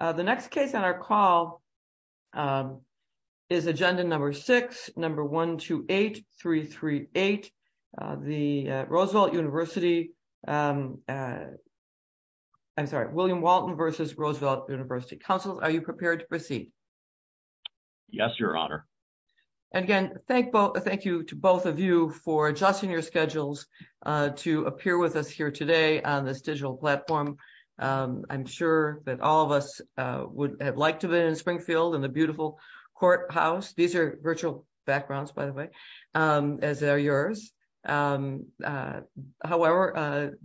The next case on our call is agenda number six, number 128338, the Roosevelt University, I'm sorry, William Walton v. Roosevelt University. Council, are you prepared to proceed? Yes, your honor. And again, thank you to both of you for adjusting your schedules to appear with us here today on this digital platform. I'm sure that all of us would have liked to have been in Springfield and the beautiful courthouse. These are virtual backgrounds, by the way, as they're yours. However,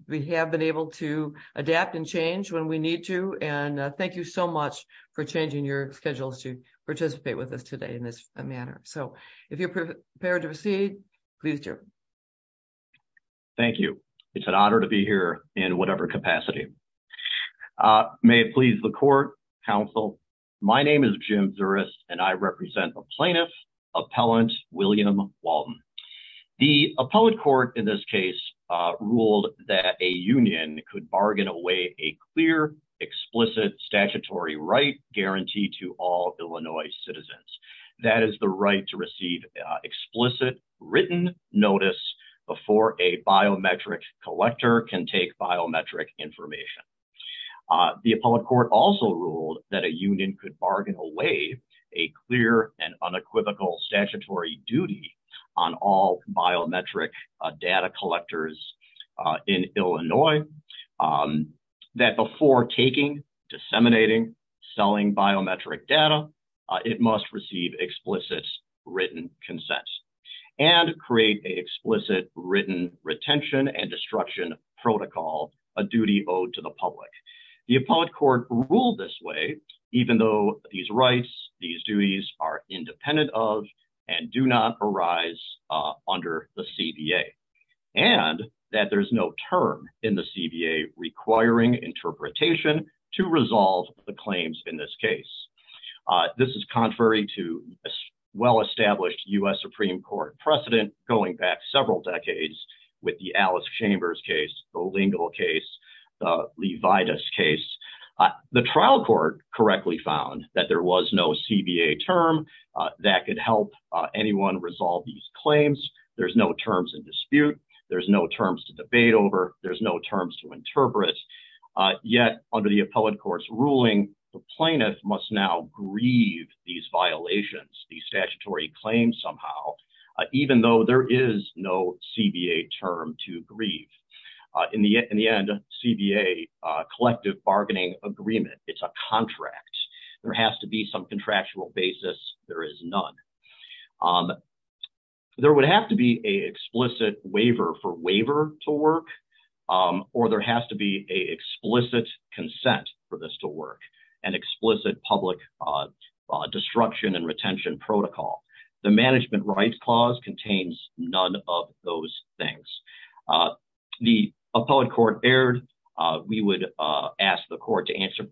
we have been able to adapt and change when we need to. And thank you so much for changing your schedules to participate with us today in this manner. So if you're prepared to proceed, please do. Thank you. It's an honor to be here in whatever capacity. May it please the court, counsel. My name is Jim Zuris, and I represent the plaintiff, appellant William Walton. The appellate court in this case ruled that a union could bargain away a clear, explicit statutory right guarantee to all Illinois citizens. That is the right to receive explicit written notice before a biometric collector can take biometric information. The appellate court also ruled that a union could bargain away a clear and unequivocal statutory duty on all biometric data collectors in Illinois. That before taking, disseminating, selling biometric data, it must receive explicit written consent and create an explicit written retention and destruction protocol, a duty owed to the public. The appellate court ruled this way, even though these rights, these duties are independent of and do not arise under the CBA. And that there's no term in the CBA requiring interpretation to resolve the claims in this case. This is contrary to well-established U.S. Supreme Court precedent going back several decades with the Alice Chambers case, the Lingle case, the Levitas case. The trial court correctly found that there was no CBA term that could help anyone resolve these claims. There's no terms in dispute. There's no terms to debate over. There's no terms to plaintiff must now grieve these violations, these statutory claims somehow, even though there is no CBA term to grieve. In the end, CBA, Collective Bargaining Agreement, it's a contract. There has to be some contractual basis. There is none. There would have to be an explicit waiver to work, or there has to be an explicit consent for this to work, an explicit public destruction and retention protocol. The Management Rights Clause contains none of those things. The appellate court erred. We would ask the court to answer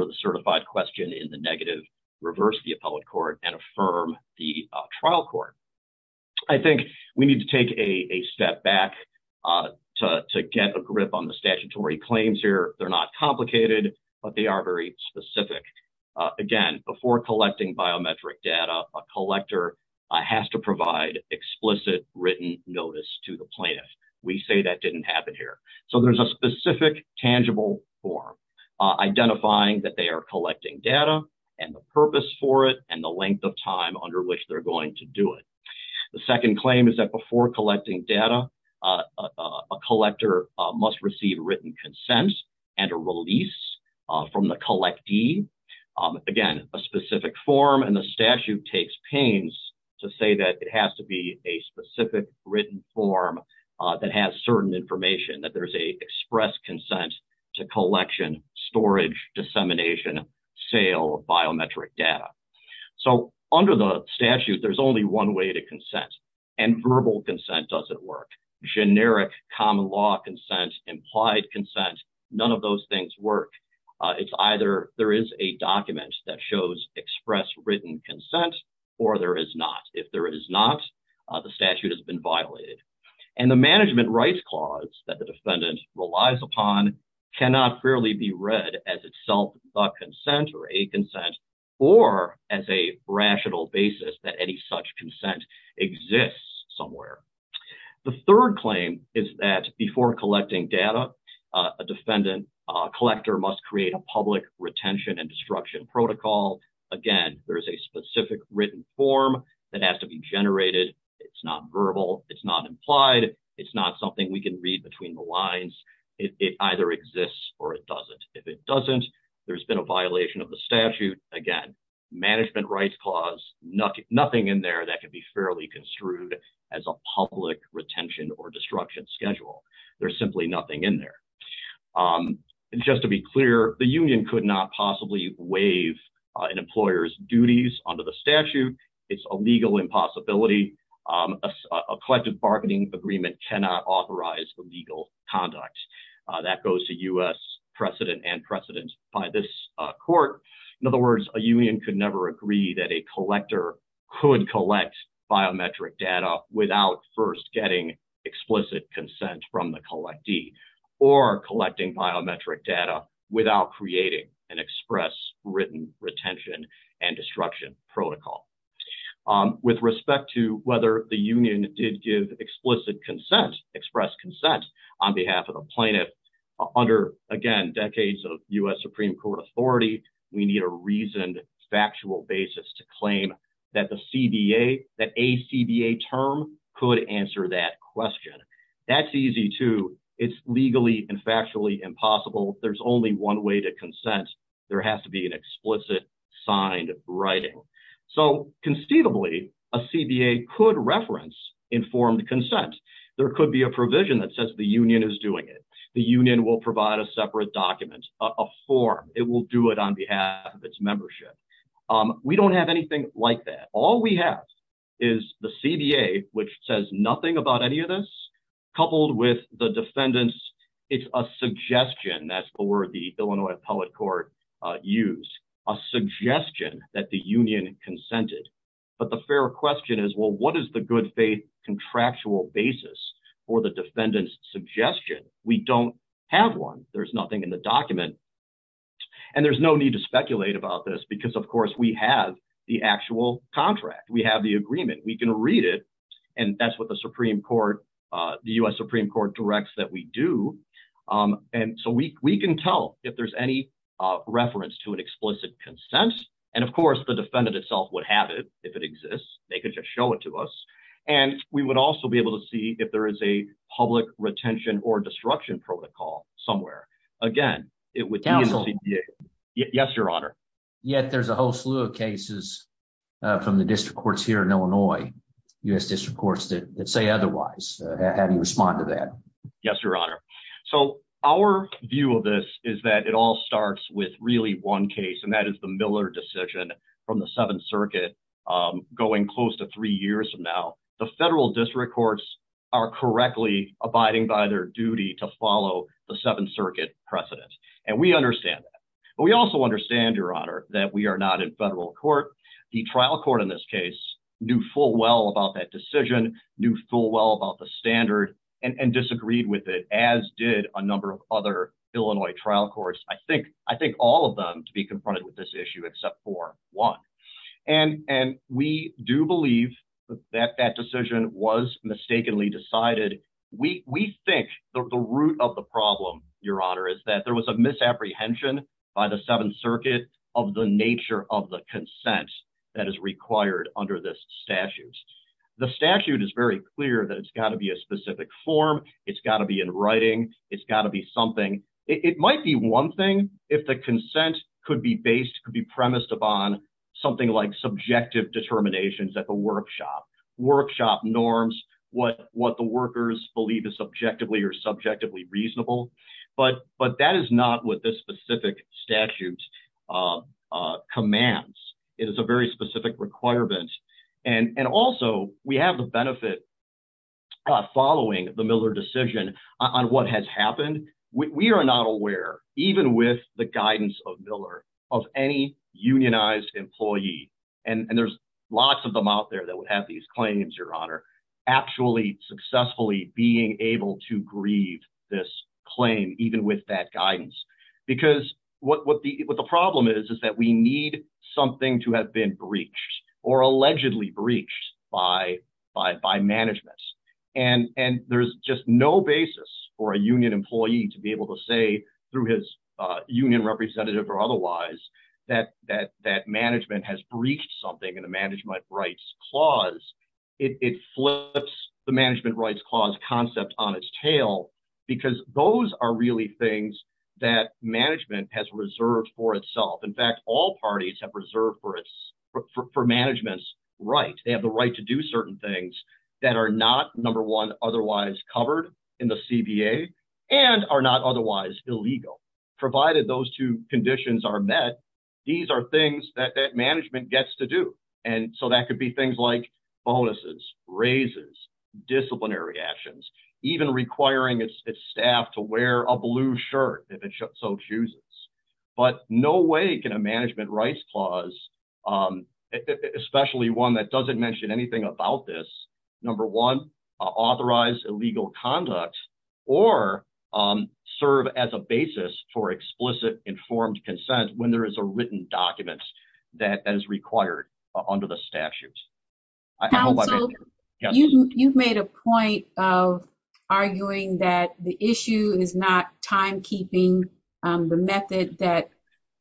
the certified question in the negative, reverse the appellate court, and affirm the trial court. I think we need to take a step back to get a grip on the statutory claims here. They're not complicated, but they are very specific. Again, before collecting biometric data, a collector has to provide explicit written notice to the plaintiff. We say that didn't happen here. There's a specific tangible form identifying that they are collecting data and the purpose for it and the length of time under which they're going to do it. The second claim is that before collecting data, a collector must receive written consent and a release from the collectee. Again, a specific form, and the statute takes pains to say that it has to be a specific written form that has certain information, that there's an express consent to collection, storage, dissemination, sale of biometric data. Under the statute, there's only one way to consent, and verbal consent doesn't work. Generic common law consent, implied consent, none of those things work. It's either there is a document that shows express written consent, or there is not. If there is not, the statute has been violated. And the management rights clause that the defendant relies upon cannot fairly be read as itself a consent or a consent, or as a rational basis that any such consent exists somewhere. The third claim is that before collecting data, a defendant collector must create a public retention and destruction protocol. Again, there is a specific written form that has to be generated. It's not verbal. It's not implied. It's not something we can read between the lines. It either exists or it doesn't. If it doesn't, there's been a violation of the statute. Again, management rights clause, nothing in there that could be fairly construed as a public retention or destruction schedule. There's an employer's duties under the statute. It's a legal impossibility. A collective bargaining agreement cannot authorize illegal conduct. That goes to U.S. precedent and precedent by this court. In other words, a union could never agree that a collector could collect biometric data without first getting explicit consent from the collectee, or collecting biometric data without creating an express written retention and destruction protocol. With respect to whether the union did give explicit consent, express consent, on behalf of the plaintiff, under, again, decades of U.S. Supreme Court authority, we need a reasoned, factual basis to claim that the CBA, that a CBA term could answer that question. That's easy, too. It's legally and one way to consent. There has to be an explicit, signed writing. So, conceivably, a CBA could reference informed consent. There could be a provision that says the union is doing it. The union will provide a separate document, a form. It will do it on behalf of its membership. We don't have anything like that. All we have is the CBA, which says nothing about any of this, coupled with the defendant's, it's a suggestion, that's the word the Illinois Appellate Court used, a suggestion that the union consented. But the fair question is, well, what is the good faith contractual basis for the defendant's suggestion? We don't have one. There's nothing in the document. And there's no need to speculate about this because, of course, we have the actual contract. We have the agreement. We can read it. And that's what the Supreme Court, the U.S. Supreme Court directs that we do. And so we can tell if there's any reference to an explicit consent. And, of course, the defendant itself would have it if it exists. They could just show it to us. And we would also be able to see if there is a public retention or destruction protocol somewhere. Again, yes, your honor. Yet there's a whole slew of cases from the district courts here in Illinois, U.S. district courts that say otherwise. How do you respond to that? Yes, your honor. So our view of this is that it all starts with really one case, and that is the Miller decision from the Seventh Circuit going close to three years from now. The federal district courts are correctly abiding by their duty to follow the Seventh Circuit precedent. And we understand that. But we also understand, your honor, that we are not in federal court. The trial court in this case knew full well about that decision, knew full well about the standard and disagreed with it, as did a number of other Illinois trial courts. I think all of them to be confronted with this decided. We think the root of the problem, your honor, is that there was a misapprehension by the Seventh Circuit of the nature of the consent that is required under this statute. The statute is very clear that it's got to be a specific form. It's got to be in writing. It's got to be something. It might be one thing if the consent could be based, could be premised upon something like subjective determinations at the workshop, workshop norms, what the workers believe is objectively or subjectively reasonable. But that is not what this specific statute commands. It is a very specific requirement. And also, we have the benefit following the Miller decision on what has happened. We are not aware, even with the guidance of Miller, of any unionized employee, and there's lots of them out there that would have these claims, your honor, actually successfully being able to grieve this claim, even with that guidance. Because what the problem is, is that we need something to have been breached or allegedly breached by management. And there's just no basis for a union employee to be able to say through his union representative or otherwise that management has breached something in the Management Rights Clause. It flips the Management Rights Clause concept on its tail because those are really things that management has reserved for itself. In fact, all parties have reserved for management's right. They have the right to do certain things that are not, number one, otherwise covered in the CBA and are not otherwise illegal, provided those two conditions are met. These are things that management gets to do. And so that could be things like bonuses, raises, disciplinary actions, even requiring its staff to wear a blue shirt if it so chooses. But no way can a Management Rights Clause, especially one that doesn't mention anything about this, number one, authorize illegal conduct or serve as a basis for explicit informed consent when there is a written document that is required under the statutes. I hope I've answered your question. You've made a point of arguing that the issue is not timekeeping, the method that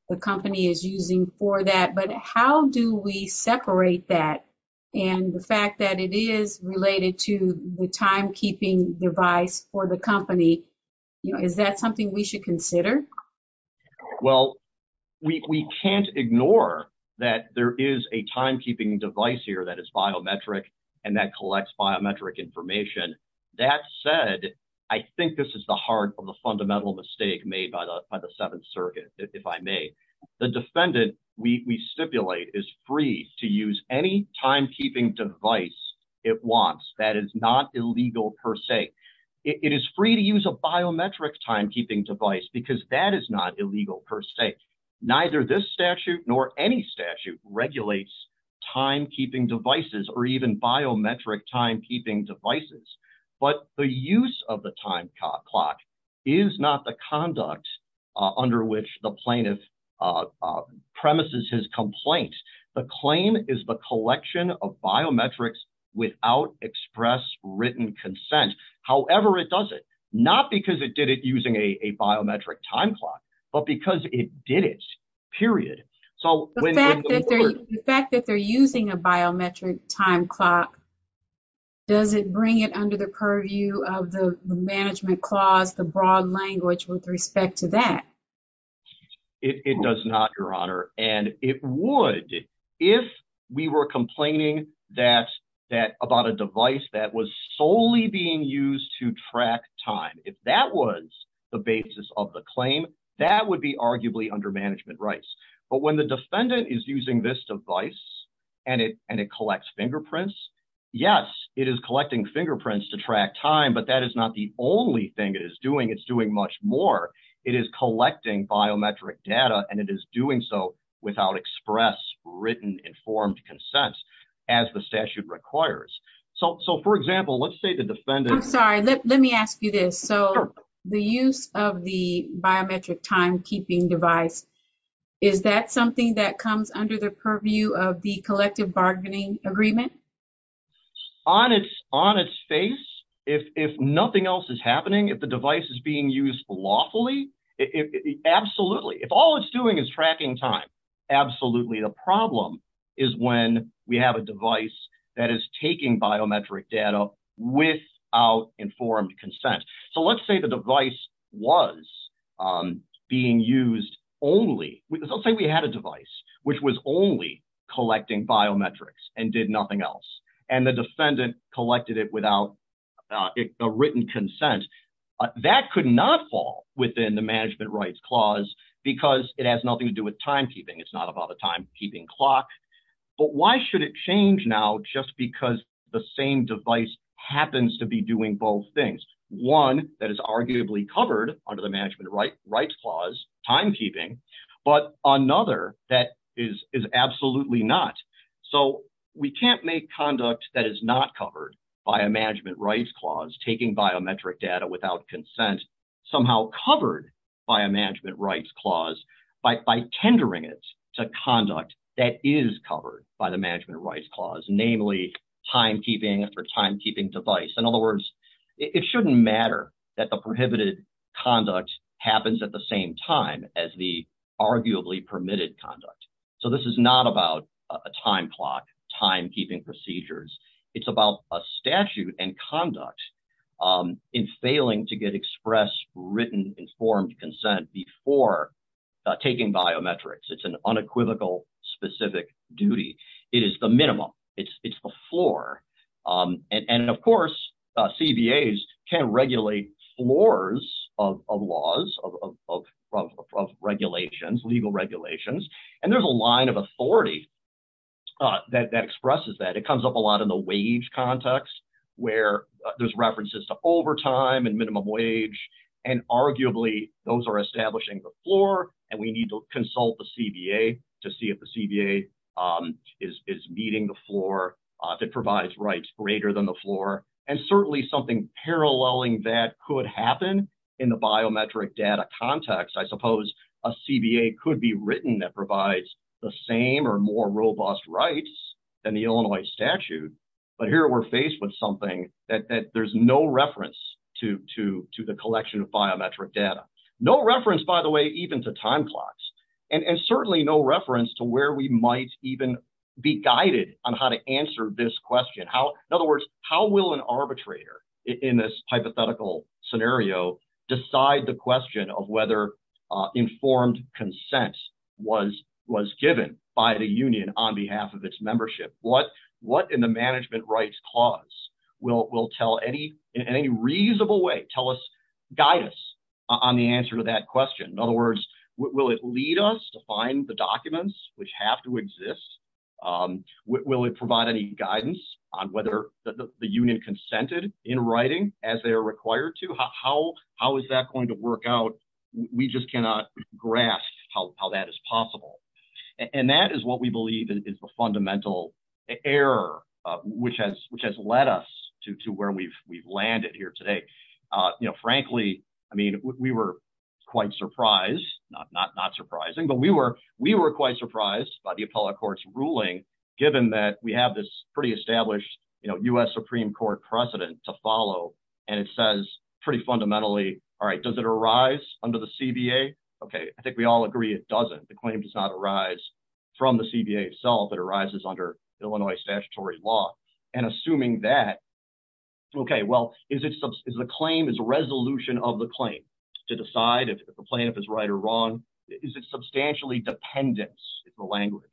the company is using for that. But how do we separate that and the fact that it is related to the timekeeping device for the company? Is that something we should consider? Well, we can't ignore that there is a timekeeping device here that is biometric and that collects biometric information. That said, I think this is the heart of the fundamental mistake made by the Seventh Circuit, if I may. The defendant, we stipulate, is free to use any timekeeping device it wants. That is not illegal per se. It is free to use a biometric timekeeping device because that is not illegal per se. Neither this statute nor any statute regulates timekeeping devices or even biometric timekeeping devices. But the use of the time clock is not the conduct under which the plaintiff premises his complaint. The claim is the collection of biometrics without express written consent. However it does it, not because it did it using a biometric time clock, but because it did it, period. The fact that they're using a biometric time clock, does it bring it under the purview of the management clause, the broad language with respect to that? It does not, Your Honor, and it would if we were complaining about a device that was solely being used to track time. If that was the basis of the claim, that would be arguably under management rights. But when the defendant is using this device and it collects fingerprints, yes, it is collecting fingerprints to track time, but that is not the only thing it is doing. It's doing much more. It is collecting biometric data and it is doing so without express written informed consent as the statute requires. So for example, let's say the defendant- I'm sorry, let me ask you this. So the use of the biometric timekeeping device, is that something that comes under the purview of the collective bargaining agreement? On its face, if nothing else is happening, if the device is being used lawfully, absolutely. If all it's doing is tracking time, absolutely. The problem is when we have a device that is taking biometric data without informed consent. So let's say the device was being used only- let's say we had a device which was only collecting biometrics and did nothing else and the defendant collected it without a written consent. That could not fall within the management rights clause because it has nothing to do with timekeeping. It's not about a time keeping clock. But why should it change now just because the same device happens to be doing both things? One that is arguably covered under the management rights clause, timekeeping, but another that is absolutely not. So we can't make conduct that is not covered by a management rights clause, taking biometric data without consent, somehow covered by a management rights clause by tendering it to conduct that is covered by the management rights clause, namely timekeeping for timekeeping device. In other words, it shouldn't matter that the prohibited conduct happens at the same time as the arguably permitted conduct. So this is not about a time clock, timekeeping procedures. It's about a statute and conduct in failing to get expressed, written, informed consent before taking biometrics. It's an unequivocal specific duty. It is the minimum. It's the floor. And of course, CBAs can regulate floors of laws, regulations, legal regulations. And there's a line of authority that expresses that. It comes up a lot in the wage context where there's references to overtime and minimum wage. And arguably, those are establishing the floor and we need to consult the CBA to see if the CBA is meeting the floor that provides rights greater than the floor. And certainly something paralleling that could happen in the biometric data context. I suppose a CBA could be written that provides the same or more robust rights than the Illinois statute. But here we're faced with something that there's no data. No reference, by the way, even to time clocks and certainly no reference to where we might even be guided on how to answer this question. In other words, how will an arbitrator in this hypothetical scenario decide the question of whether informed consent was given by the union on behalf of its membership? What in the management rights clause will tell any in any reasonable way guide us on the answer to that question? In other words, will it lead us to find the documents which have to exist? Will it provide any guidance on whether the union consented in writing as they are required to? How is that going to work out? We just cannot grasp how that is possible. And that is what we believe is the fundamental error which has led us to where we've today. Frankly, we were quite surprised, not surprising, but we were quite surprised by the appellate court's ruling, given that we have this pretty established U.S. Supreme Court precedent to follow. And it says pretty fundamentally, all right, does it arise under the CBA? Okay, I think we all agree it doesn't. The claim does not arise from the CBA itself. It arises under Illinois statutory law. And assuming that, okay, well, is the claim is a resolution of the claim to decide if the plaintiff is right or wrong? Is it substantially dependent, is the language,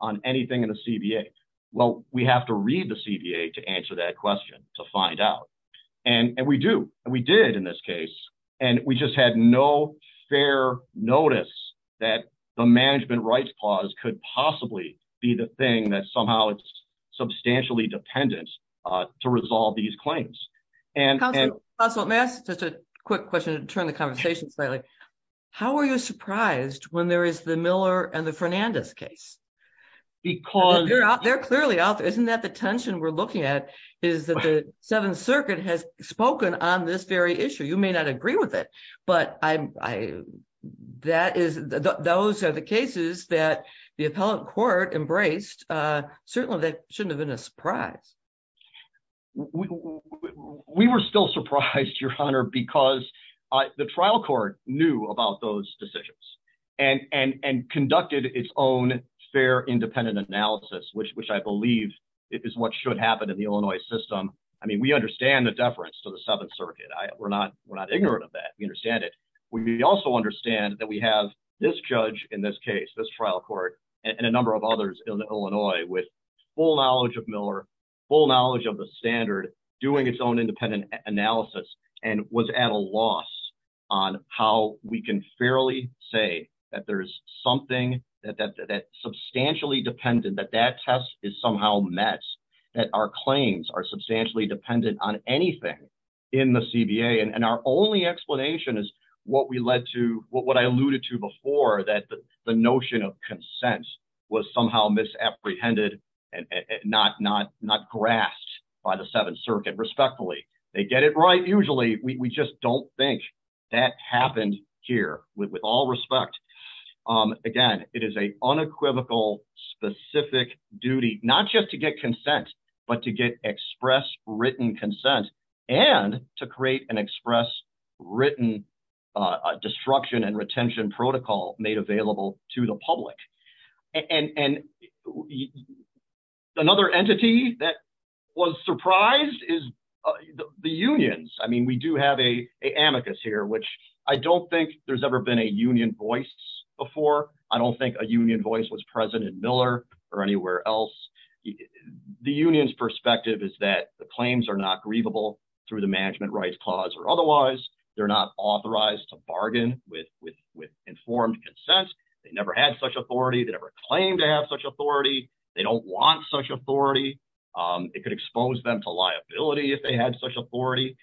on anything in the CBA? Well, we have to read the CBA to answer that question, to find out. And we do. And we did in this case. And we just had no fair notice that the management rights clause could possibly be the thing that somehow it's substantially dependent to resolve these claims. And- Counselor, may I ask just a quick question to turn the conversation slightly? How are you surprised when there is the Miller and the Fernandez case? Because- They're clearly out there. Isn't that the tension we're looking at is that the Seventh Circuit has spoken on this very issue. You may not agree with it. But those are the cases that the appellate court embraced. Certainly, that shouldn't have been a surprise. We were still surprised, Your Honor, because the trial court knew about those decisions and conducted its own fair independent analysis, which I believe is what should happen in the Illinois system. I mean, we understand the Seventh Circuit. We're not ignorant of that. We understand it. We also understand that we have this judge in this case, this trial court, and a number of others in Illinois with full knowledge of Miller, full knowledge of the standard, doing its own independent analysis, and was at a loss on how we can fairly say that there's something that's substantially dependent, that that test is somehow met, that our claims are substantially dependent on anything in the CBA. And our only explanation is what we led to, what I alluded to before, that the notion of consent was somehow misapprehended and not grasped by the Seventh Circuit respectfully. They get it right usually. We just don't think that happened here, with all respect. Again, it is an unequivocal, specific duty, not just to get consent, but to get express written consent, and to create an express written destruction and retention protocol made available to the public. And another entity that was surprised is the unions. I mean, we do have a amicus here, which I don't think there's ever been a union voice before. I don't think a union voice was present in Miller or anywhere else. The union's perspective is that the claims are not grievable through the Management Rights Clause or otherwise. They're not authorized to bargain with informed consent. They never had such authority. They never claimed to have such authority. They don't want such authority. It could expose them to liability if they had such authority.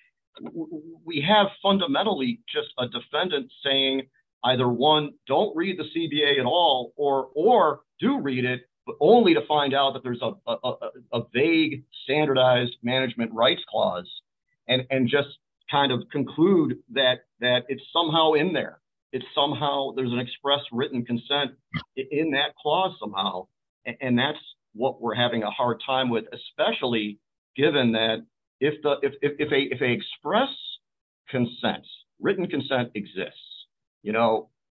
We have fundamentally just a defendant saying, either one, don't read the CBA at all, or do read it, but only to find out that there's a vague, standardized Management Rights Clause, and just kind of conclude that it's somehow in there. It's somehow, there's an express written consent in that clause somehow, and that's what we're having a hard time with, especially given that if they express consent, written consent exists.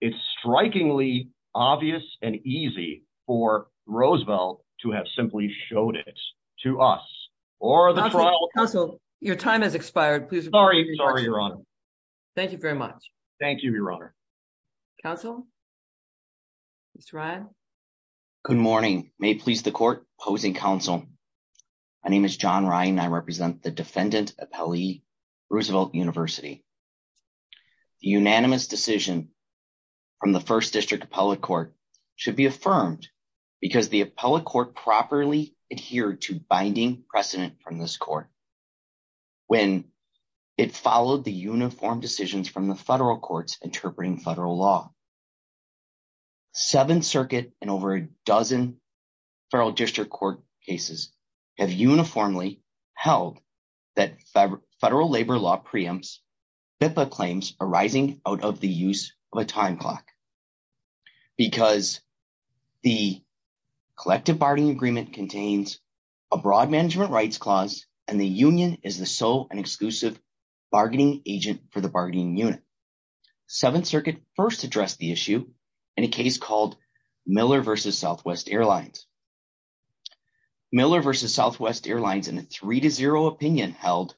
It's strikingly obvious and easy for Roosevelt to have simply showed it to us, or the trial. Counsel, your time has expired. Sorry, Your Honor. Thank you very much. Thank you, Your Honor. Counsel? Mr. Ryan? Good morning. May it please the court opposing counsel. My name is John Ryan. I represent the Defendant Appellee, Roosevelt University. The unanimous decision from the First District Appellate Court should be affirmed because the Appellate Court properly adhered to binding precedent from this court when it followed the uniform decisions from the federal courts interpreting federal law. The Seventh Circuit and over a dozen federal district court cases have uniformly held that federal labor law preempts BIPA claims arising out of the use of a time clock because the collective bargaining agreement contains a broad Management Rights Clause, and the union is the sole and exclusive bargaining agent for the bargaining unit. The Seventh Circuit first addressed the issue in a case called Miller v. Southwest Airlines. Miller v. Southwest Airlines in a 3-0 opinion held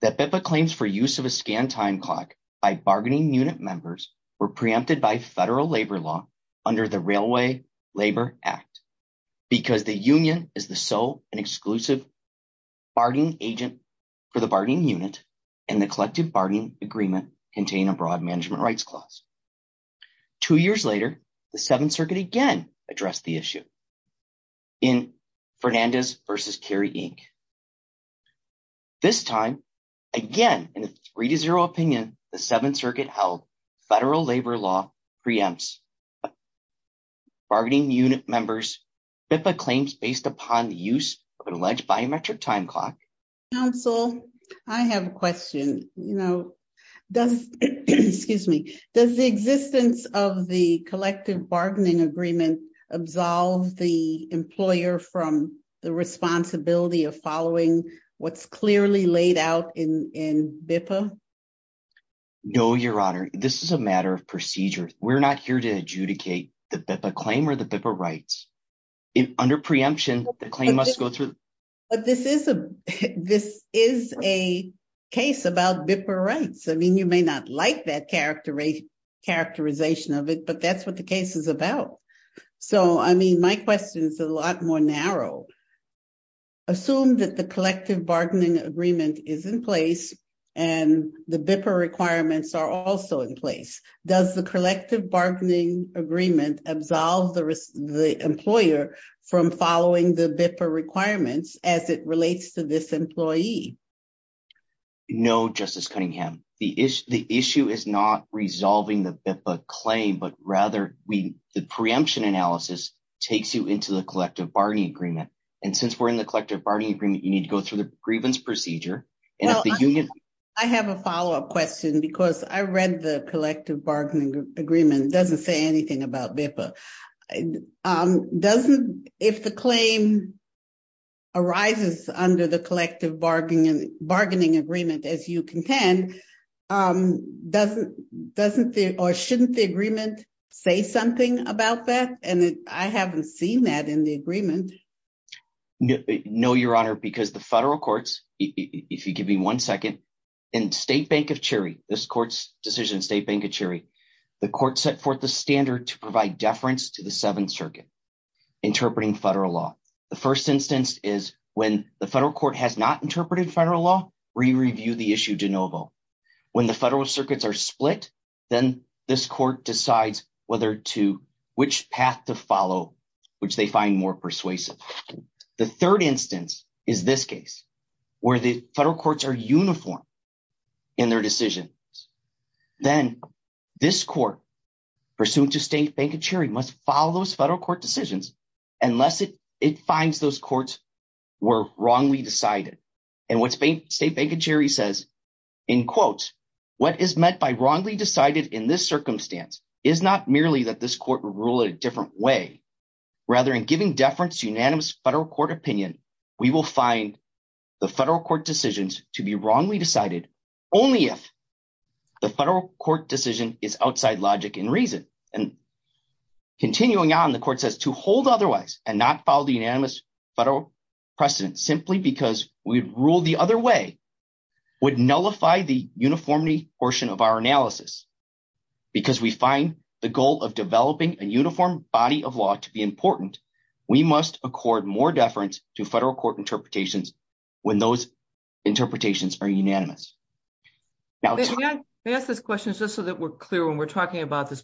that BIPA claims for use of a scanned time clock by bargaining unit members were preempted by federal labor law under the Railway Labor Act because the union is the sole and exclusive bargaining agent for the bargaining unit, and the collective bargaining agreement contain a broad Management Rights Clause. Two years later, the Seventh Circuit again addressed the issue in Fernandez v. Carey, Inc. This time, again, in a 3-0 opinion, the Seventh Circuit held federal labor law preempts bargaining unit members BIPA claims based upon the use of an alleged biometric time clock. Counsel, I have a question. Does the existence of the collective bargaining agreement absolve the employer from the responsibility of following what's clearly laid out in BIPA? No, Your Honor. This is a matter of procedure. We're not here to adjudicate the BIPA claim or BIPA rights. Under preemption, the claim must go through... But this is a case about BIPA rights. I mean, you may not like that characterization of it, but that's what the case is about. So, I mean, my question is a lot more narrow. Assume that the collective bargaining agreement is in place and the BIPA requirements are also in place. Does the collective bargaining agreement absolve the employer from following the BIPA requirements as it relates to this employee? No, Justice Cunningham. The issue is not resolving the BIPA claim, but rather the preemption analysis takes you into the collective bargaining agreement. And since we're in the collective bargaining agreement, you need to go through the grievance procedure. Well, I have a follow-up question because I read the collective bargaining agreement. It doesn't say anything about BIPA. If the claim arises under the collective bargaining agreement, as you contend, doesn't or shouldn't the agreement say something about that? And I haven't seen that in the agreement. No, Your Honor, because the courts, if you give me one second, in State Bank of Cherry, this court's decision, State Bank of Cherry, the court set forth the standard to provide deference to the Seventh Circuit interpreting federal law. The first instance is when the federal court has not interpreted federal law, re-review the issue de novo. When the federal circuits are split, then this court decides whether to, which path to follow, which they find more persuasive. The third instance is this case, where the federal courts are uniform in their decisions. Then this court, pursuant to State Bank of Cherry, must follow those federal court decisions unless it finds those courts were wrongly decided. And what State Bank of Cherry says, in quotes, what is meant by wrongly decided in this circumstance is not merely that this court will rule it a different way, rather in giving deference to unanimous federal court opinion, we will find the federal court decisions to be wrongly decided only if the federal court decision is outside logic and reason. And continuing on, the court says to hold otherwise and not follow the unanimous federal precedent simply because we'd rule the other way would nullify the uniformity portion of our analysis. Because we find the goal of developing a uniform body of law to be important, we must accord more deference to federal court interpretations when those interpretations are unanimous. Now let me ask this question just so that we're clear when we're talking about this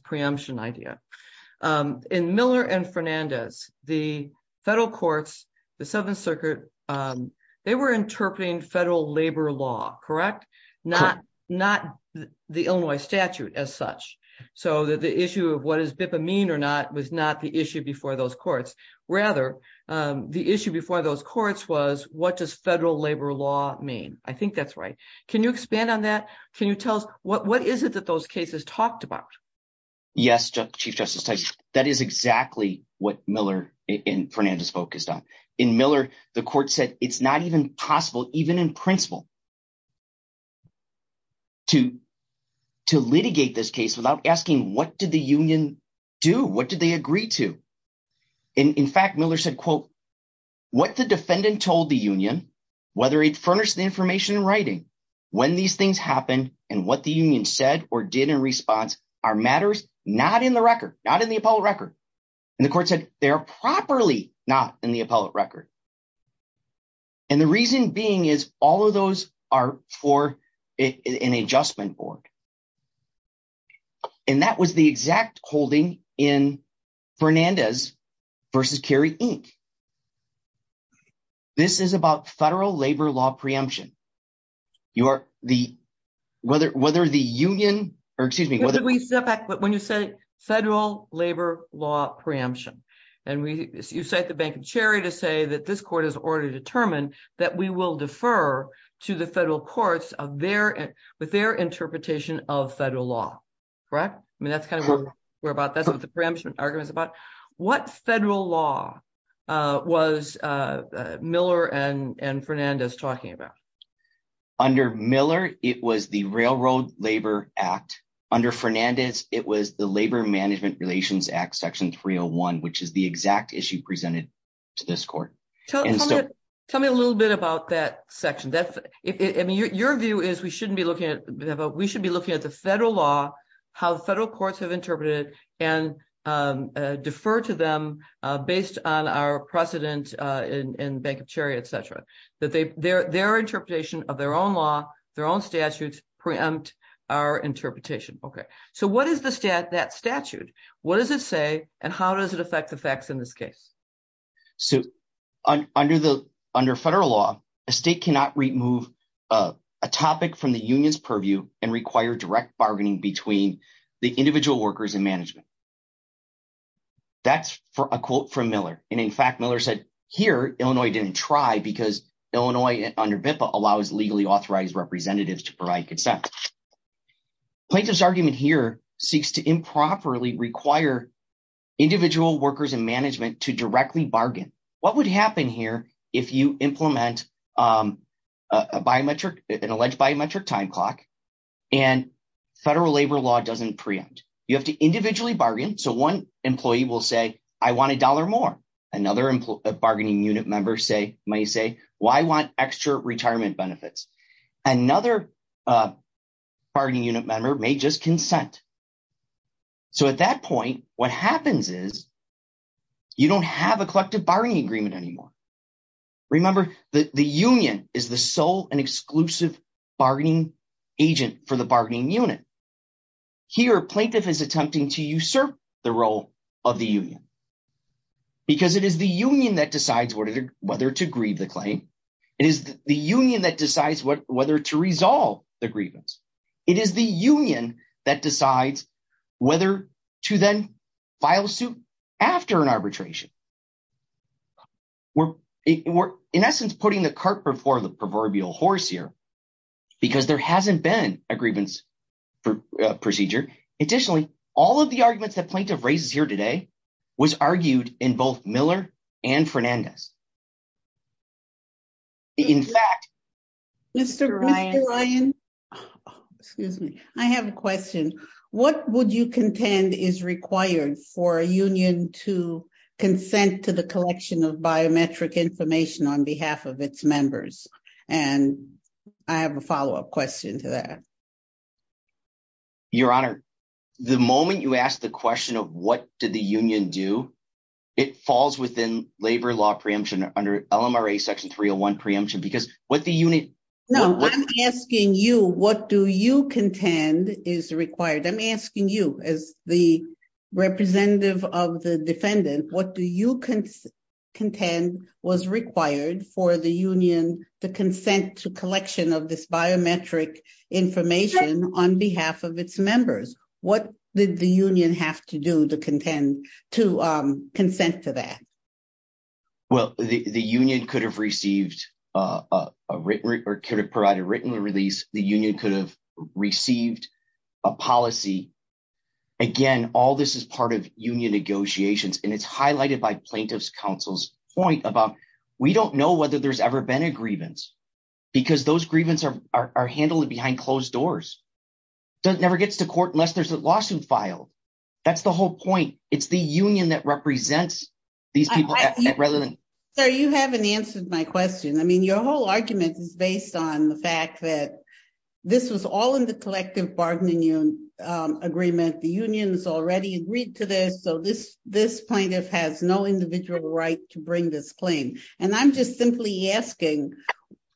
circuit. They were interpreting federal labor law, correct? Not the Illinois statute as such. So the issue of what does BIPA mean or not was not the issue before those courts. Rather, the issue before those courts was what does federal labor law mean? I think that's right. Can you expand on that? Can you tell us what is it that those cases talked about? Yes, Chief Justice Tyson. That is exactly what Miller and Fernandez focused on. In Miller, the court said it's not even possible, even in principle, to litigate this case without asking what did the union do? What did they agree to? And in fact, Miller said, quote, what the defendant told the union, whether it furnished the information in writing, when these things happened and what the union said or did in response are matters not in the record, not in the appellate record. And the court said they're properly not in the appellate record. And the reason being is all of those are for an adjustment board. And that was the exact holding in Fernandez versus Kerry Inc. This is about federal labor law preemption. Whether the union or excuse me. When you say federal labor law preemption, and you cite the Bank of Cherry to say that this court has already determined that we will defer to the federal courts with their interpretation of federal law, correct? I mean, that's kind of what we're about. That's what the preemption argument is about. What federal law was Miller and Fernandez talking about? Under Miller, it was the Railroad Labor Act. Under Fernandez, it was the Labor Management Relations Act, Section 301, which is the exact issue presented to this court. Tell me a little bit about that section. I mean, your view is we shouldn't be looking at we should be looking at the federal law, how federal courts have interpreted and defer to them based on our precedent in Bank of Cherry, etc. That their interpretation of their own law, their own statutes preempt our interpretation. Okay. So what is that statute? What does it say? And how does it affect the facts in this case? So under federal law, a state cannot remove a topic from the union's purview and require direct workers and management. That's a quote from Miller. And in fact, Miller said here, Illinois didn't try because Illinois under BIPA allows legally authorized representatives to provide consent. Plaintiff's argument here seeks to improperly require individual workers and management to directly bargain. What would happen here if you implement an alleged biometric time and federal labor law doesn't preempt? You have to individually bargain. So one employee will say, I want a dollar more. Another bargaining unit member may say, well, I want extra retirement benefits. Another bargaining unit member may just consent. So at that point, what happens is you don't have a collective bargaining agreement anymore. Remember, the union is the sole and agent for the bargaining unit. Here, plaintiff is attempting to usurp the role of the union because it is the union that decides whether to grieve the claim. It is the union that decides whether to resolve the grievance. It is the union that decides whether to then file suit after an arbitration. We're in essence, putting the cart before the proverbial horse here because there hasn't been a grievance procedure. Additionally, all of the arguments that plaintiff raises here today was argued in both Miller and Fernandez. I have a question. What would you contend is required for a union to consent to the collection of biometric information on behalf of its members? I have a follow-up question to that. Your Honor, the moment you ask the question of what did the union do, it falls within labor law preemption under LMRA section 301 preemption because what the unit- No, I'm asking you, what do you contend is required? I'm asking you as the representative of the defendant, what do you contend was required for the union to consent to collection of this biometric information on behalf of its members? What did the union have to do to consent to that? Well, the union could have received or could have provided written release. The union could have received a policy. Again, all this is part of union negotiations and it's highlighted by plaintiff's counsel's point about we don't know whether there's ever been a grievance because those grievances are handled behind closed doors. It never gets to court unless there's a lawsuit filed. That's the whole point. It's the union that represents these people. Sir, you haven't answered my question. Your whole argument is based on the fact that this was all in the collective bargaining agreement. The union's already agreed to this, so this plaintiff has no individual right to bring this claim. I'm just simply asking,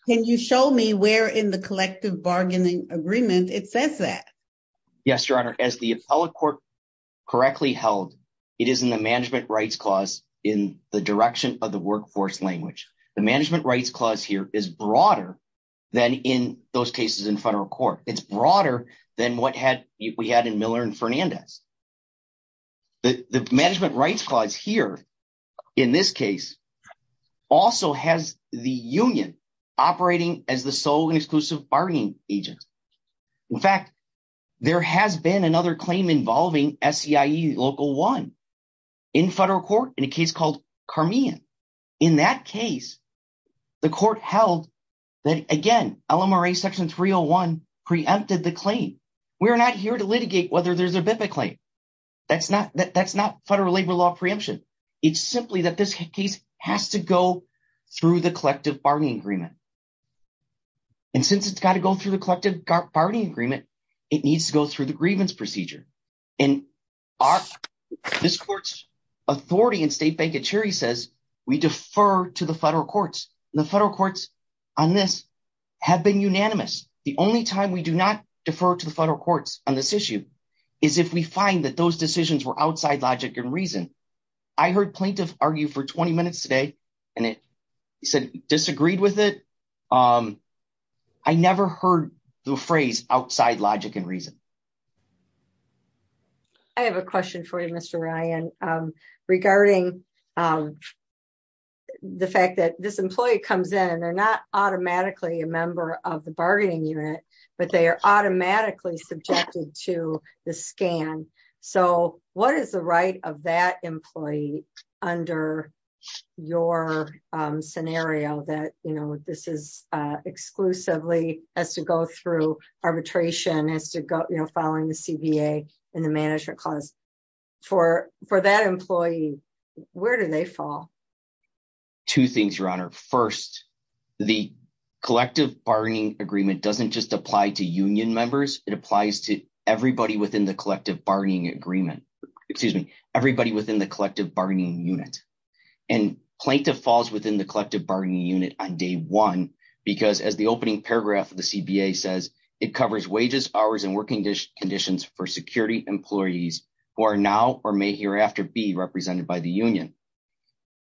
can you show me where in the collective bargaining agreement it says that? Yes, Your Honor. As the appellate court correctly held, it is in the management rights clause in the direction of the workforce language. The management rights clause here is broader than in those cases in federal court. It's broader than what we had in Miller and Fernandez. The management rights clause here in this case also has the union operating as the sole and exclusive bargaining agent. In fact, there has been another claim involving SCIE Local 1 in federal court in a case called Carmian. In that case, the court held that, again, LMRA Section 301 preempted the claim. We're not here to litigate whether there's a BIPA claim. That's not federal labor law preemption. It's simply that this case has to go through the collective bargaining agreement. Since it's got to go through the collective bargaining agreement, it needs to go through the grievance procedure. This court's authority in State Bank of Cherry says we defer to the federal courts. The federal courts on this have been unanimous. The only time we do not defer to the federal courts on this issue is if we find that those decisions were outside logic and reason. I heard plaintiffs argue for 20 minutes today and it said disagreed with it. I never heard the phrase outside logic and reason. I have a question for you, Mr. Ryan, regarding the fact that this employee comes in and they're not automatically a member of the bargaining unit, but they are automatically subjected to the scan. What is the right of that employee under your scenario that this is exclusively has to go through arbitration, has to go following the CBA and the management clause? For that employee, where do they fall? Two things, Your Honor. First, the collective bargaining agreement doesn't just apply to union members. It applies to everybody within the collective bargaining unit. Plaintiff falls within the collective bargaining unit on day one because as the opening paragraph of the CBA says, it covers wages, hours, and working conditions for security employees who are now or may hereafter be represented by the union.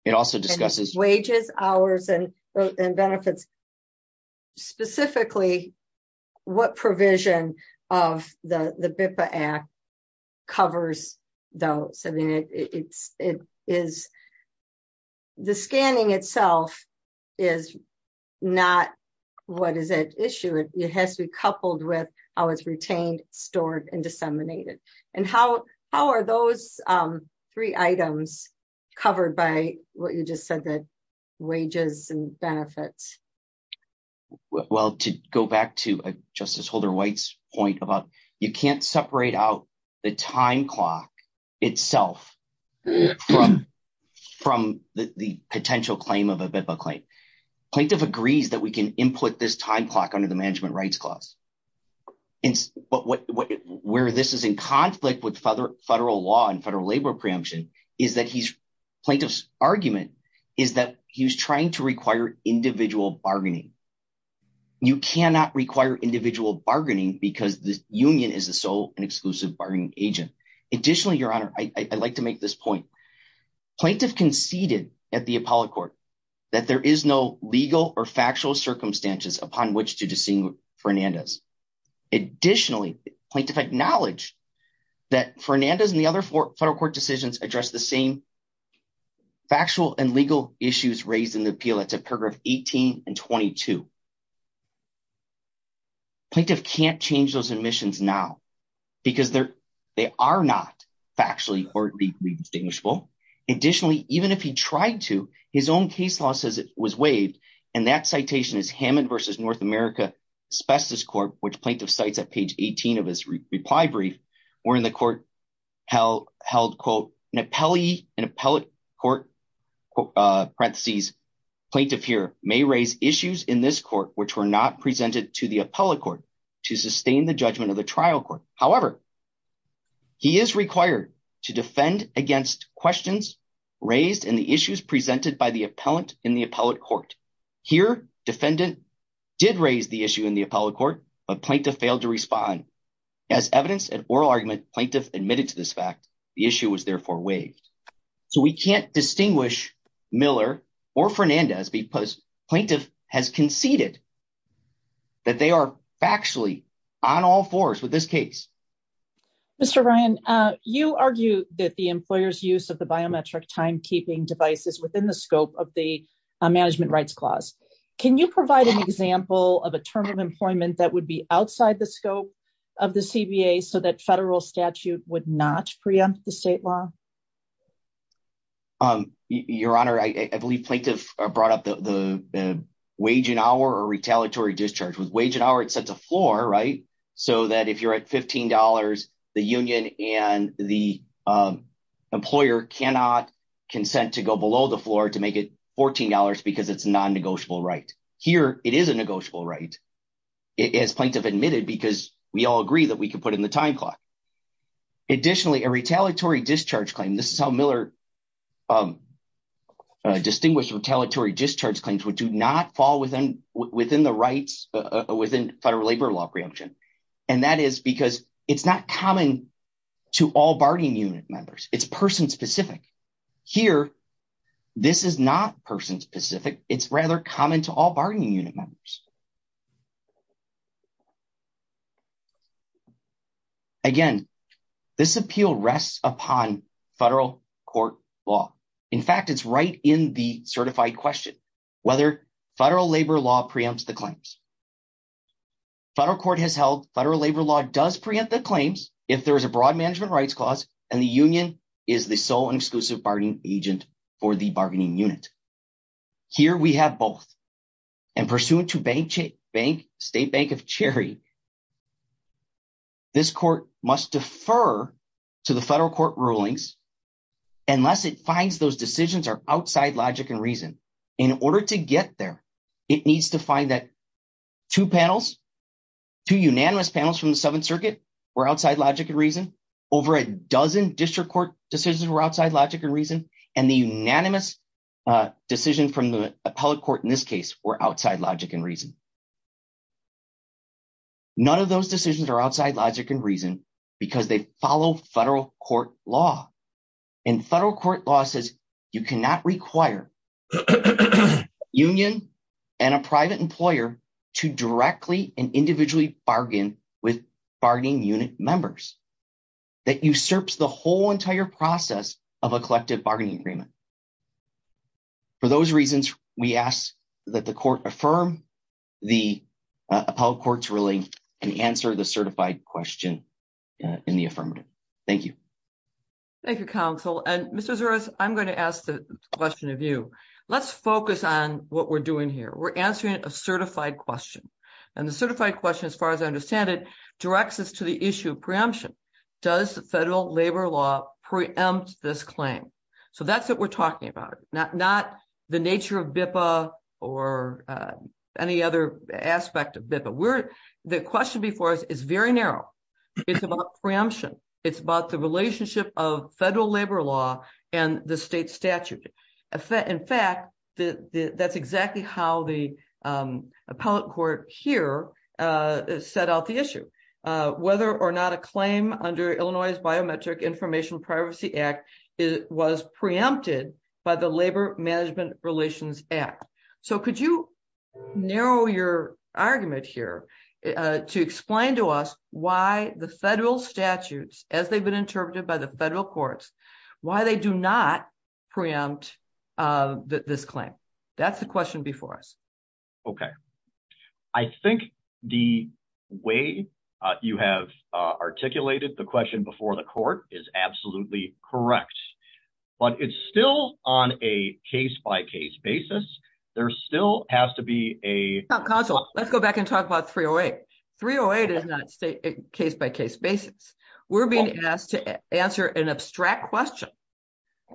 It also discusses wages, hours, and benefits. Specifically, what provision of the BIPA Act covers those? The scanning itself is not what is at issue. It has to be coupled with how it's covered by what you just said, the wages and benefits. Well, to go back to Justice Holder White's point about you can't separate out the time clock itself from the potential claim of a BIPA claim. Plaintiff agrees that we can input this time clock under the management rights clause. Where this is in conflict with federal law and federal labor preemption is that plaintiff's argument is that he's trying to require individual bargaining. You cannot require individual bargaining because the union is the sole and exclusive bargaining agent. Additionally, Your Honor, I'd like to make this point. Plaintiff conceded at the appellate court that there is no legal or factual circumstances upon which to distinguish Fernandez. Additionally, plaintiff acknowledged that Fernandez and the other federal court decisions address the same factual and legal issues raised in the appeal. That's at paragraph 18 and 22. Plaintiff can't change those admissions now because they are not factually or legally distinguishable. Additionally, even if he tried to, his own case law says it was waived and that citation is Hammond v. North America Specialist Court, which plaintiff cites at page 18 of his reply brief, wherein the court held, quote, an appellee in appellate court, parentheses, plaintiff here may raise issues in this court which were not presented to the appellate court to sustain the judgment of the trial court. However, he is required to defend against questions raised in the issues presented by the appellant in the appellate court. Here, defendant did raise the issue in the appellate court, but plaintiff failed to respond. As evidence and oral argument, plaintiff admitted to this fact. The issue was therefore waived. So we can't distinguish Miller or Fernandez because plaintiff has conceded that they are factually on all fours with this case. Mr. Ryan, you argue that the employer's use of the biometric timekeeping device is within the scope of the management rights clause. Can you provide an example of a term of employment that would be outside the scope of the CBA so that federal statute would not preempt the state law? Your Honor, I believe plaintiff brought up the wage hour or retaliatory discharge. With wage and hour, it sets a floor, right, so that if you're at $15, the union and the employer cannot consent to go below the floor to make it $14 because it's a non-negotiable right. Here, it is a negotiable right, as plaintiff admitted, because we all agree that we can put in the time clock. Additionally, a retaliatory discharge claim, this is how Miller distinguished retaliatory discharge claims would do not fall within the rights within federal labor law preemption, and that is because it's not common to all bargaining unit members. It's person-specific. Here, this is not person-specific. It's rather common to all bargaining unit members. Again, this appeal rests upon federal court law. In fact, it's right in the certified question, whether federal labor law preempts the claims. Federal court has held federal labor law does preempt the claims if there is a broad management rights clause and the union is the sole and exclusive bargaining agent for the bargaining unit. Here, we have both, and pursuant to Bayh State Bank of Cherry, this court must defer to the federal court rulings unless it finds those decisions are outside logic and reason. In order to get there, it needs to find that two panels, two unanimous panels from the Seventh Circuit were outside logic and reason, over a dozen district court decisions were outside logic and reason, and the unanimous decision from the appellate in this case were outside logic and reason. None of those decisions are outside logic and reason because they follow federal court law, and federal court law says you cannot require union and a private employer to directly and individually bargain with bargaining unit members. That usurps the whole entire process of a collective bargaining agreement. For those reasons, we ask that the court affirm the appellate court's ruling and answer the certified question in the affirmative. Thank you. Thank you, counsel. And Mr. Zuras, I'm going to ask the question of you. Let's focus on what we're doing here. We're answering a certified question, and the certified question, as far as I understand it, directs us to the issue of preemption. Does federal labor law preempt this claim? So that's what we're talking about, not the nature of BIPA or any other aspect of BIPA. The question before us is very narrow. It's about preemption. It's about the relationship of federal labor law and the state statute. In fact, that's exactly how the appellate court here set out the issue. Whether or not a claim under Illinois' Biometric Information Privacy Act was preempted by the Labor Management Relations Act. So could you narrow your argument here to explain to us why the federal statutes, as they've been interpreted by the federal courts, why they do not preempt this claim? That's the question before us. Okay. I think the way you have articulated the question before the court is absolutely correct. But it's still on a case-by-case basis. There still has to be a- Counsel, let's go back and talk about 308. 308 is not a case-by-case basis. We're being asked to answer an abstract question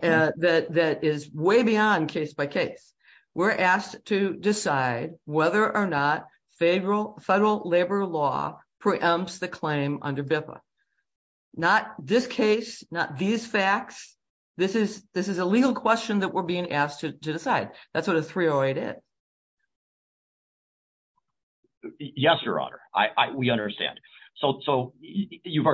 that is way beyond case-by-case. We're asked to decide whether or not federal labor law preempts the claim under BIPA. Not this case, not these facts. This is a legal question that we're being asked to decide. That's what a 308 is. Yes, Your Honor. We understand. So you've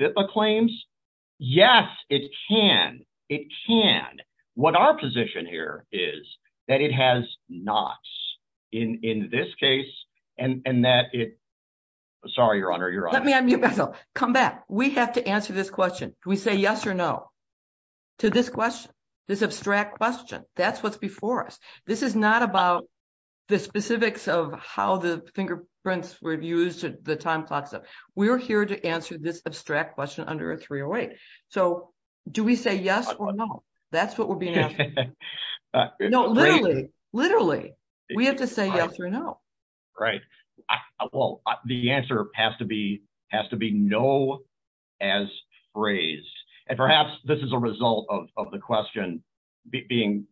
BIPA claims? Yes, it can. It can. What our position here is that it has not in this case. Sorry, Your Honor. Come back. We have to answer this question. Do we say yes or no to this question, this abstract question? That's what's before us. This is not about the specifics of how the fingerprints were used, the time clocks. We're here to answer this abstract question under a 308. So do we say yes or no? That's what we're being asked to do. No, literally, literally, we have to say yes or no. Right. Well, the answer has to be, has to be no as phrased. And perhaps this is a result of the question being-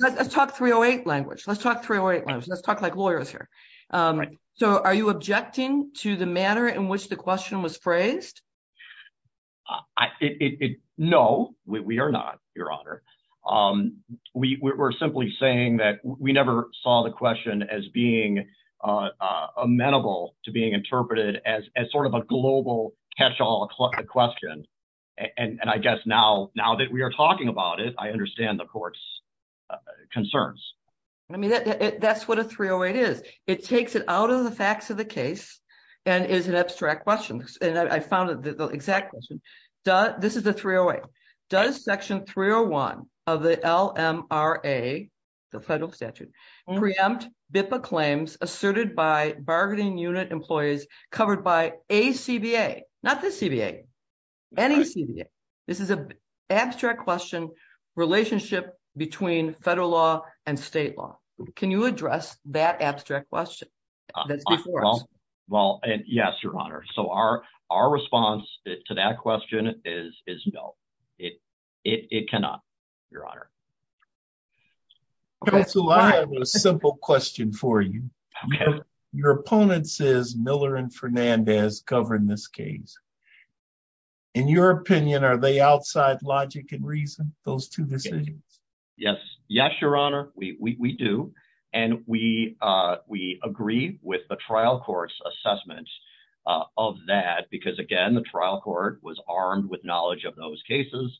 Let's talk 308 language. Let's talk 308 language. Let's talk like lawyers here. So are you objecting to the manner in which the question was phrased? No, we are not, Your Honor. We're simply saying that we never saw the question as being amenable to being interpreted as sort of a global catch-all question. And I guess now, now that we are talking about it, I understand the court's concerns. I mean, that's what a 308 is. It takes it out of the facts of the case and is an abstract question. And I found that the exact question, this is the 308. Does section 301 of the LMRA, the federal statute, preempt BIPA claims asserted by bargaining unit employees covered by a CBA, not the CBA, any CBA. This is an abstract question, relationship between federal law and state law. Can you address that abstract question? Well, yes, Your Honor. So our response to that question is no. It cannot, Your Honor. Counsel, I have a simple question for you. Your opponents is Miller and Fernandez covering this case. In your opinion, are they outside logic and reason, those two decisions? Yes. Yes, Your Honor. We do. And we agree with the trial court's assessment of that because again, the trial court was armed with knowledge of those cases,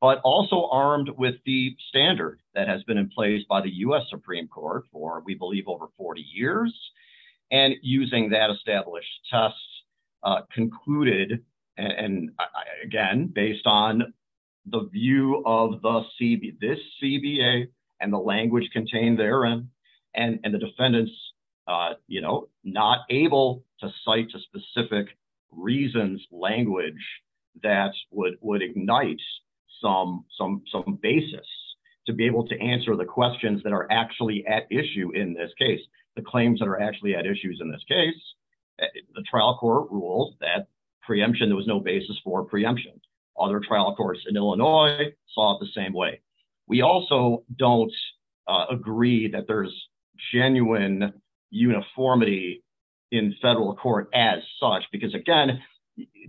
but also armed with the standard that has been in place by the U.S. Supreme Court for, we believe, over 40 years. And using that established test concluded, and again, based on the view of the CBA, this CBA and the language contained therein, and the defendants, you know, not able to cite a specific reasons language that would ignite some basis to be able to answer the questions that are actually at issue in this case. The claims that are actually at issues in this case, the trial court ruled that preemption, there was no basis for preemption. Other trial courts in Illinois saw it the same way. We also don't agree that there's genuine uniformity in federal court as such, because again,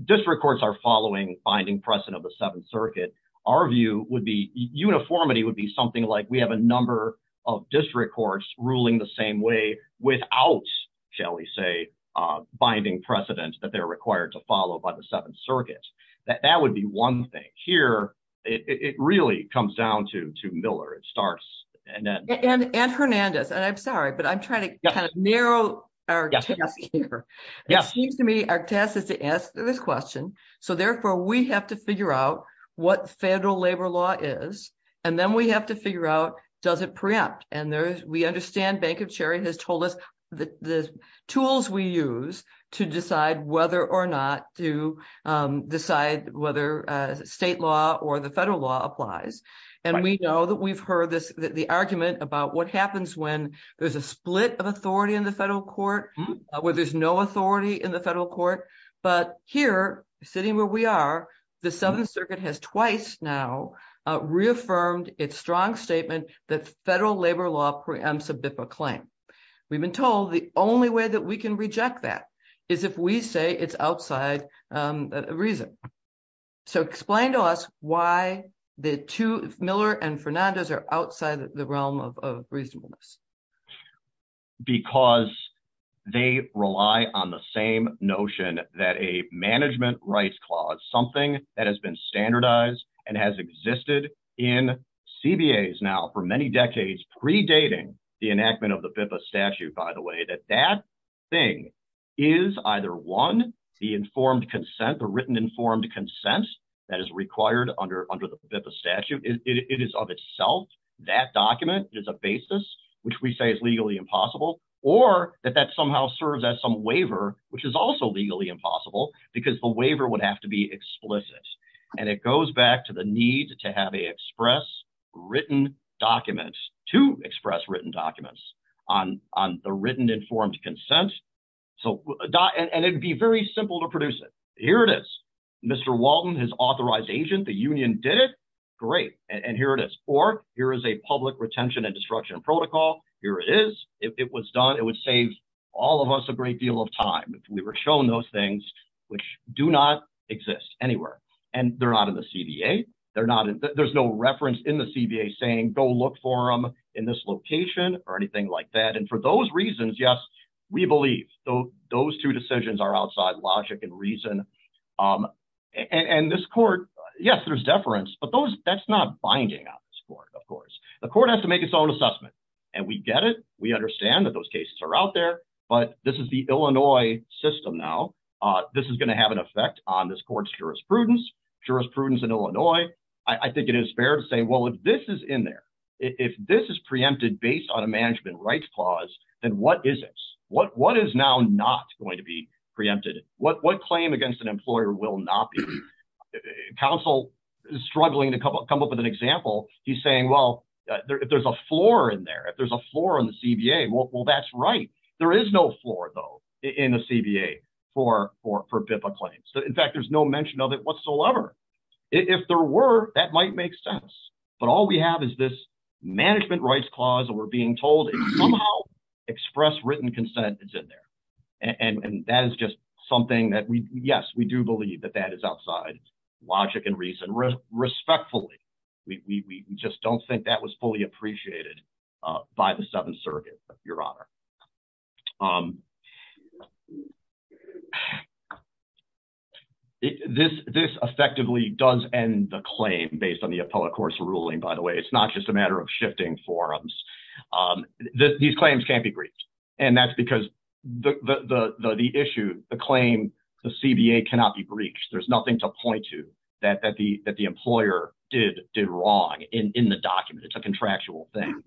district courts are following binding precedent of the Seventh District Courts ruling the same way without, shall we say, binding precedent that they're required to follow by the Seventh Circuit. That would be one thing. Here, it really comes down to Miller. It starts... And Hernandez, and I'm sorry, but I'm trying to kind of narrow our test here. It seems to me our test is to answer this question. So therefore, we have to figure out what federal labor law is, and then we have to figure out, does it preempt? And we understand Bank of Cherry has told us the tools we use to decide whether or not to decide whether state law or the federal law applies. And we know that we've heard the argument about what happens when there's a split of authority in the federal court, where there's no authority in the federal court. But here, sitting where we are, the Seventh Circuit has twice now reaffirmed its strong statement that federal labor law preempts a BIFA claim. We've been told the only way that we can reject that is if we say it's outside reason. So explain to us why Miller and Hernandez are outside the realm of reasonableness. Because they rely on the same notion that a management rights clause, something that has been standardized and has existed in CBAs now for many decades, predating the enactment of the BIFA statute, by the way, that that thing is either one, the informed consent, the written informed consent that is required under the BIFA statute. It is of that document is a basis, which we say is legally impossible, or that that somehow serves as some waiver, which is also legally impossible because the waiver would have to be explicit. And it goes back to the need to have a express written documents to express written documents on on the written informed consent. So and it'd be very simple to produce it. Here it is. Mr. Walton, his authorized agent, the union did it. Great. And here it is. Or here is a public retention and destruction protocol. Here it is. It was done. It would save all of us a great deal of time if we were shown those things which do not exist anywhere. And they're not in the CBA. They're not. There's no reference in the CBA saying go look for them in this location or anything like that. And for those reasons, yes, we believe those two decisions are outside logic and reason. And this court, yes, there's deference, but that's not binding on this court, of course. The court has to make its own assessment. And we get it. We understand that those cases are out there. But this is the Illinois system now. This is going to have an effect on this court's jurisprudence. Jurisprudence in Illinois. I think it is fair to say, well, if this is in there, if this is preempted based on a management rights clause, then what is this? What is now not going to be preempted? What claim against an employer will not be? Counsel is struggling to come up with an example. He's saying, well, if there's a floor in there, if there's a floor on the CBA, well, that's right. There is no floor, though, in the CBA for BIPA claims. In fact, there's no mention of it whatsoever. If there were, that might make sense. But all we have is this management rights clause that we're being told somehow express written consent is in there. And that is just something that we, yes, we do believe that that is outside logic and reason. Respectfully, we just don't think that was fully appreciated by the Seventh Circuit, Your Honor. This effectively does end the claim based on the appellate court's ruling, by the way. It's not just a matter of shifting forums. These claims can't be breached. And that's because the issue, the claim, the CBA cannot be breached. There's nothing to point to that the employer did wrong in the document. It's a contractual thing.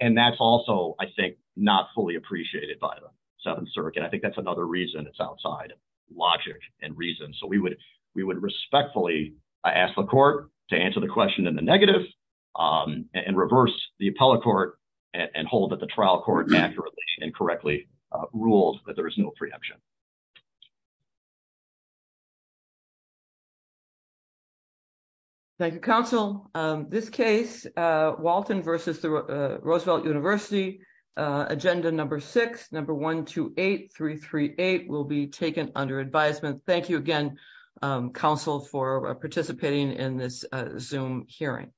And that's also, I think, not fully appreciated by the Seventh Circuit. I think that's another reason it's outside logic and reason. So we would respectfully ask the court to answer the question in the negative and reverse the appellate court and hold that the trial court accurately and correctly ruled that there is no preemption. Thank you, counsel. This case, Walton versus Roosevelt University, agenda number six, number 128338, will be taken under advisement. Thank you again, counsel, for participating in this Zoom hearing.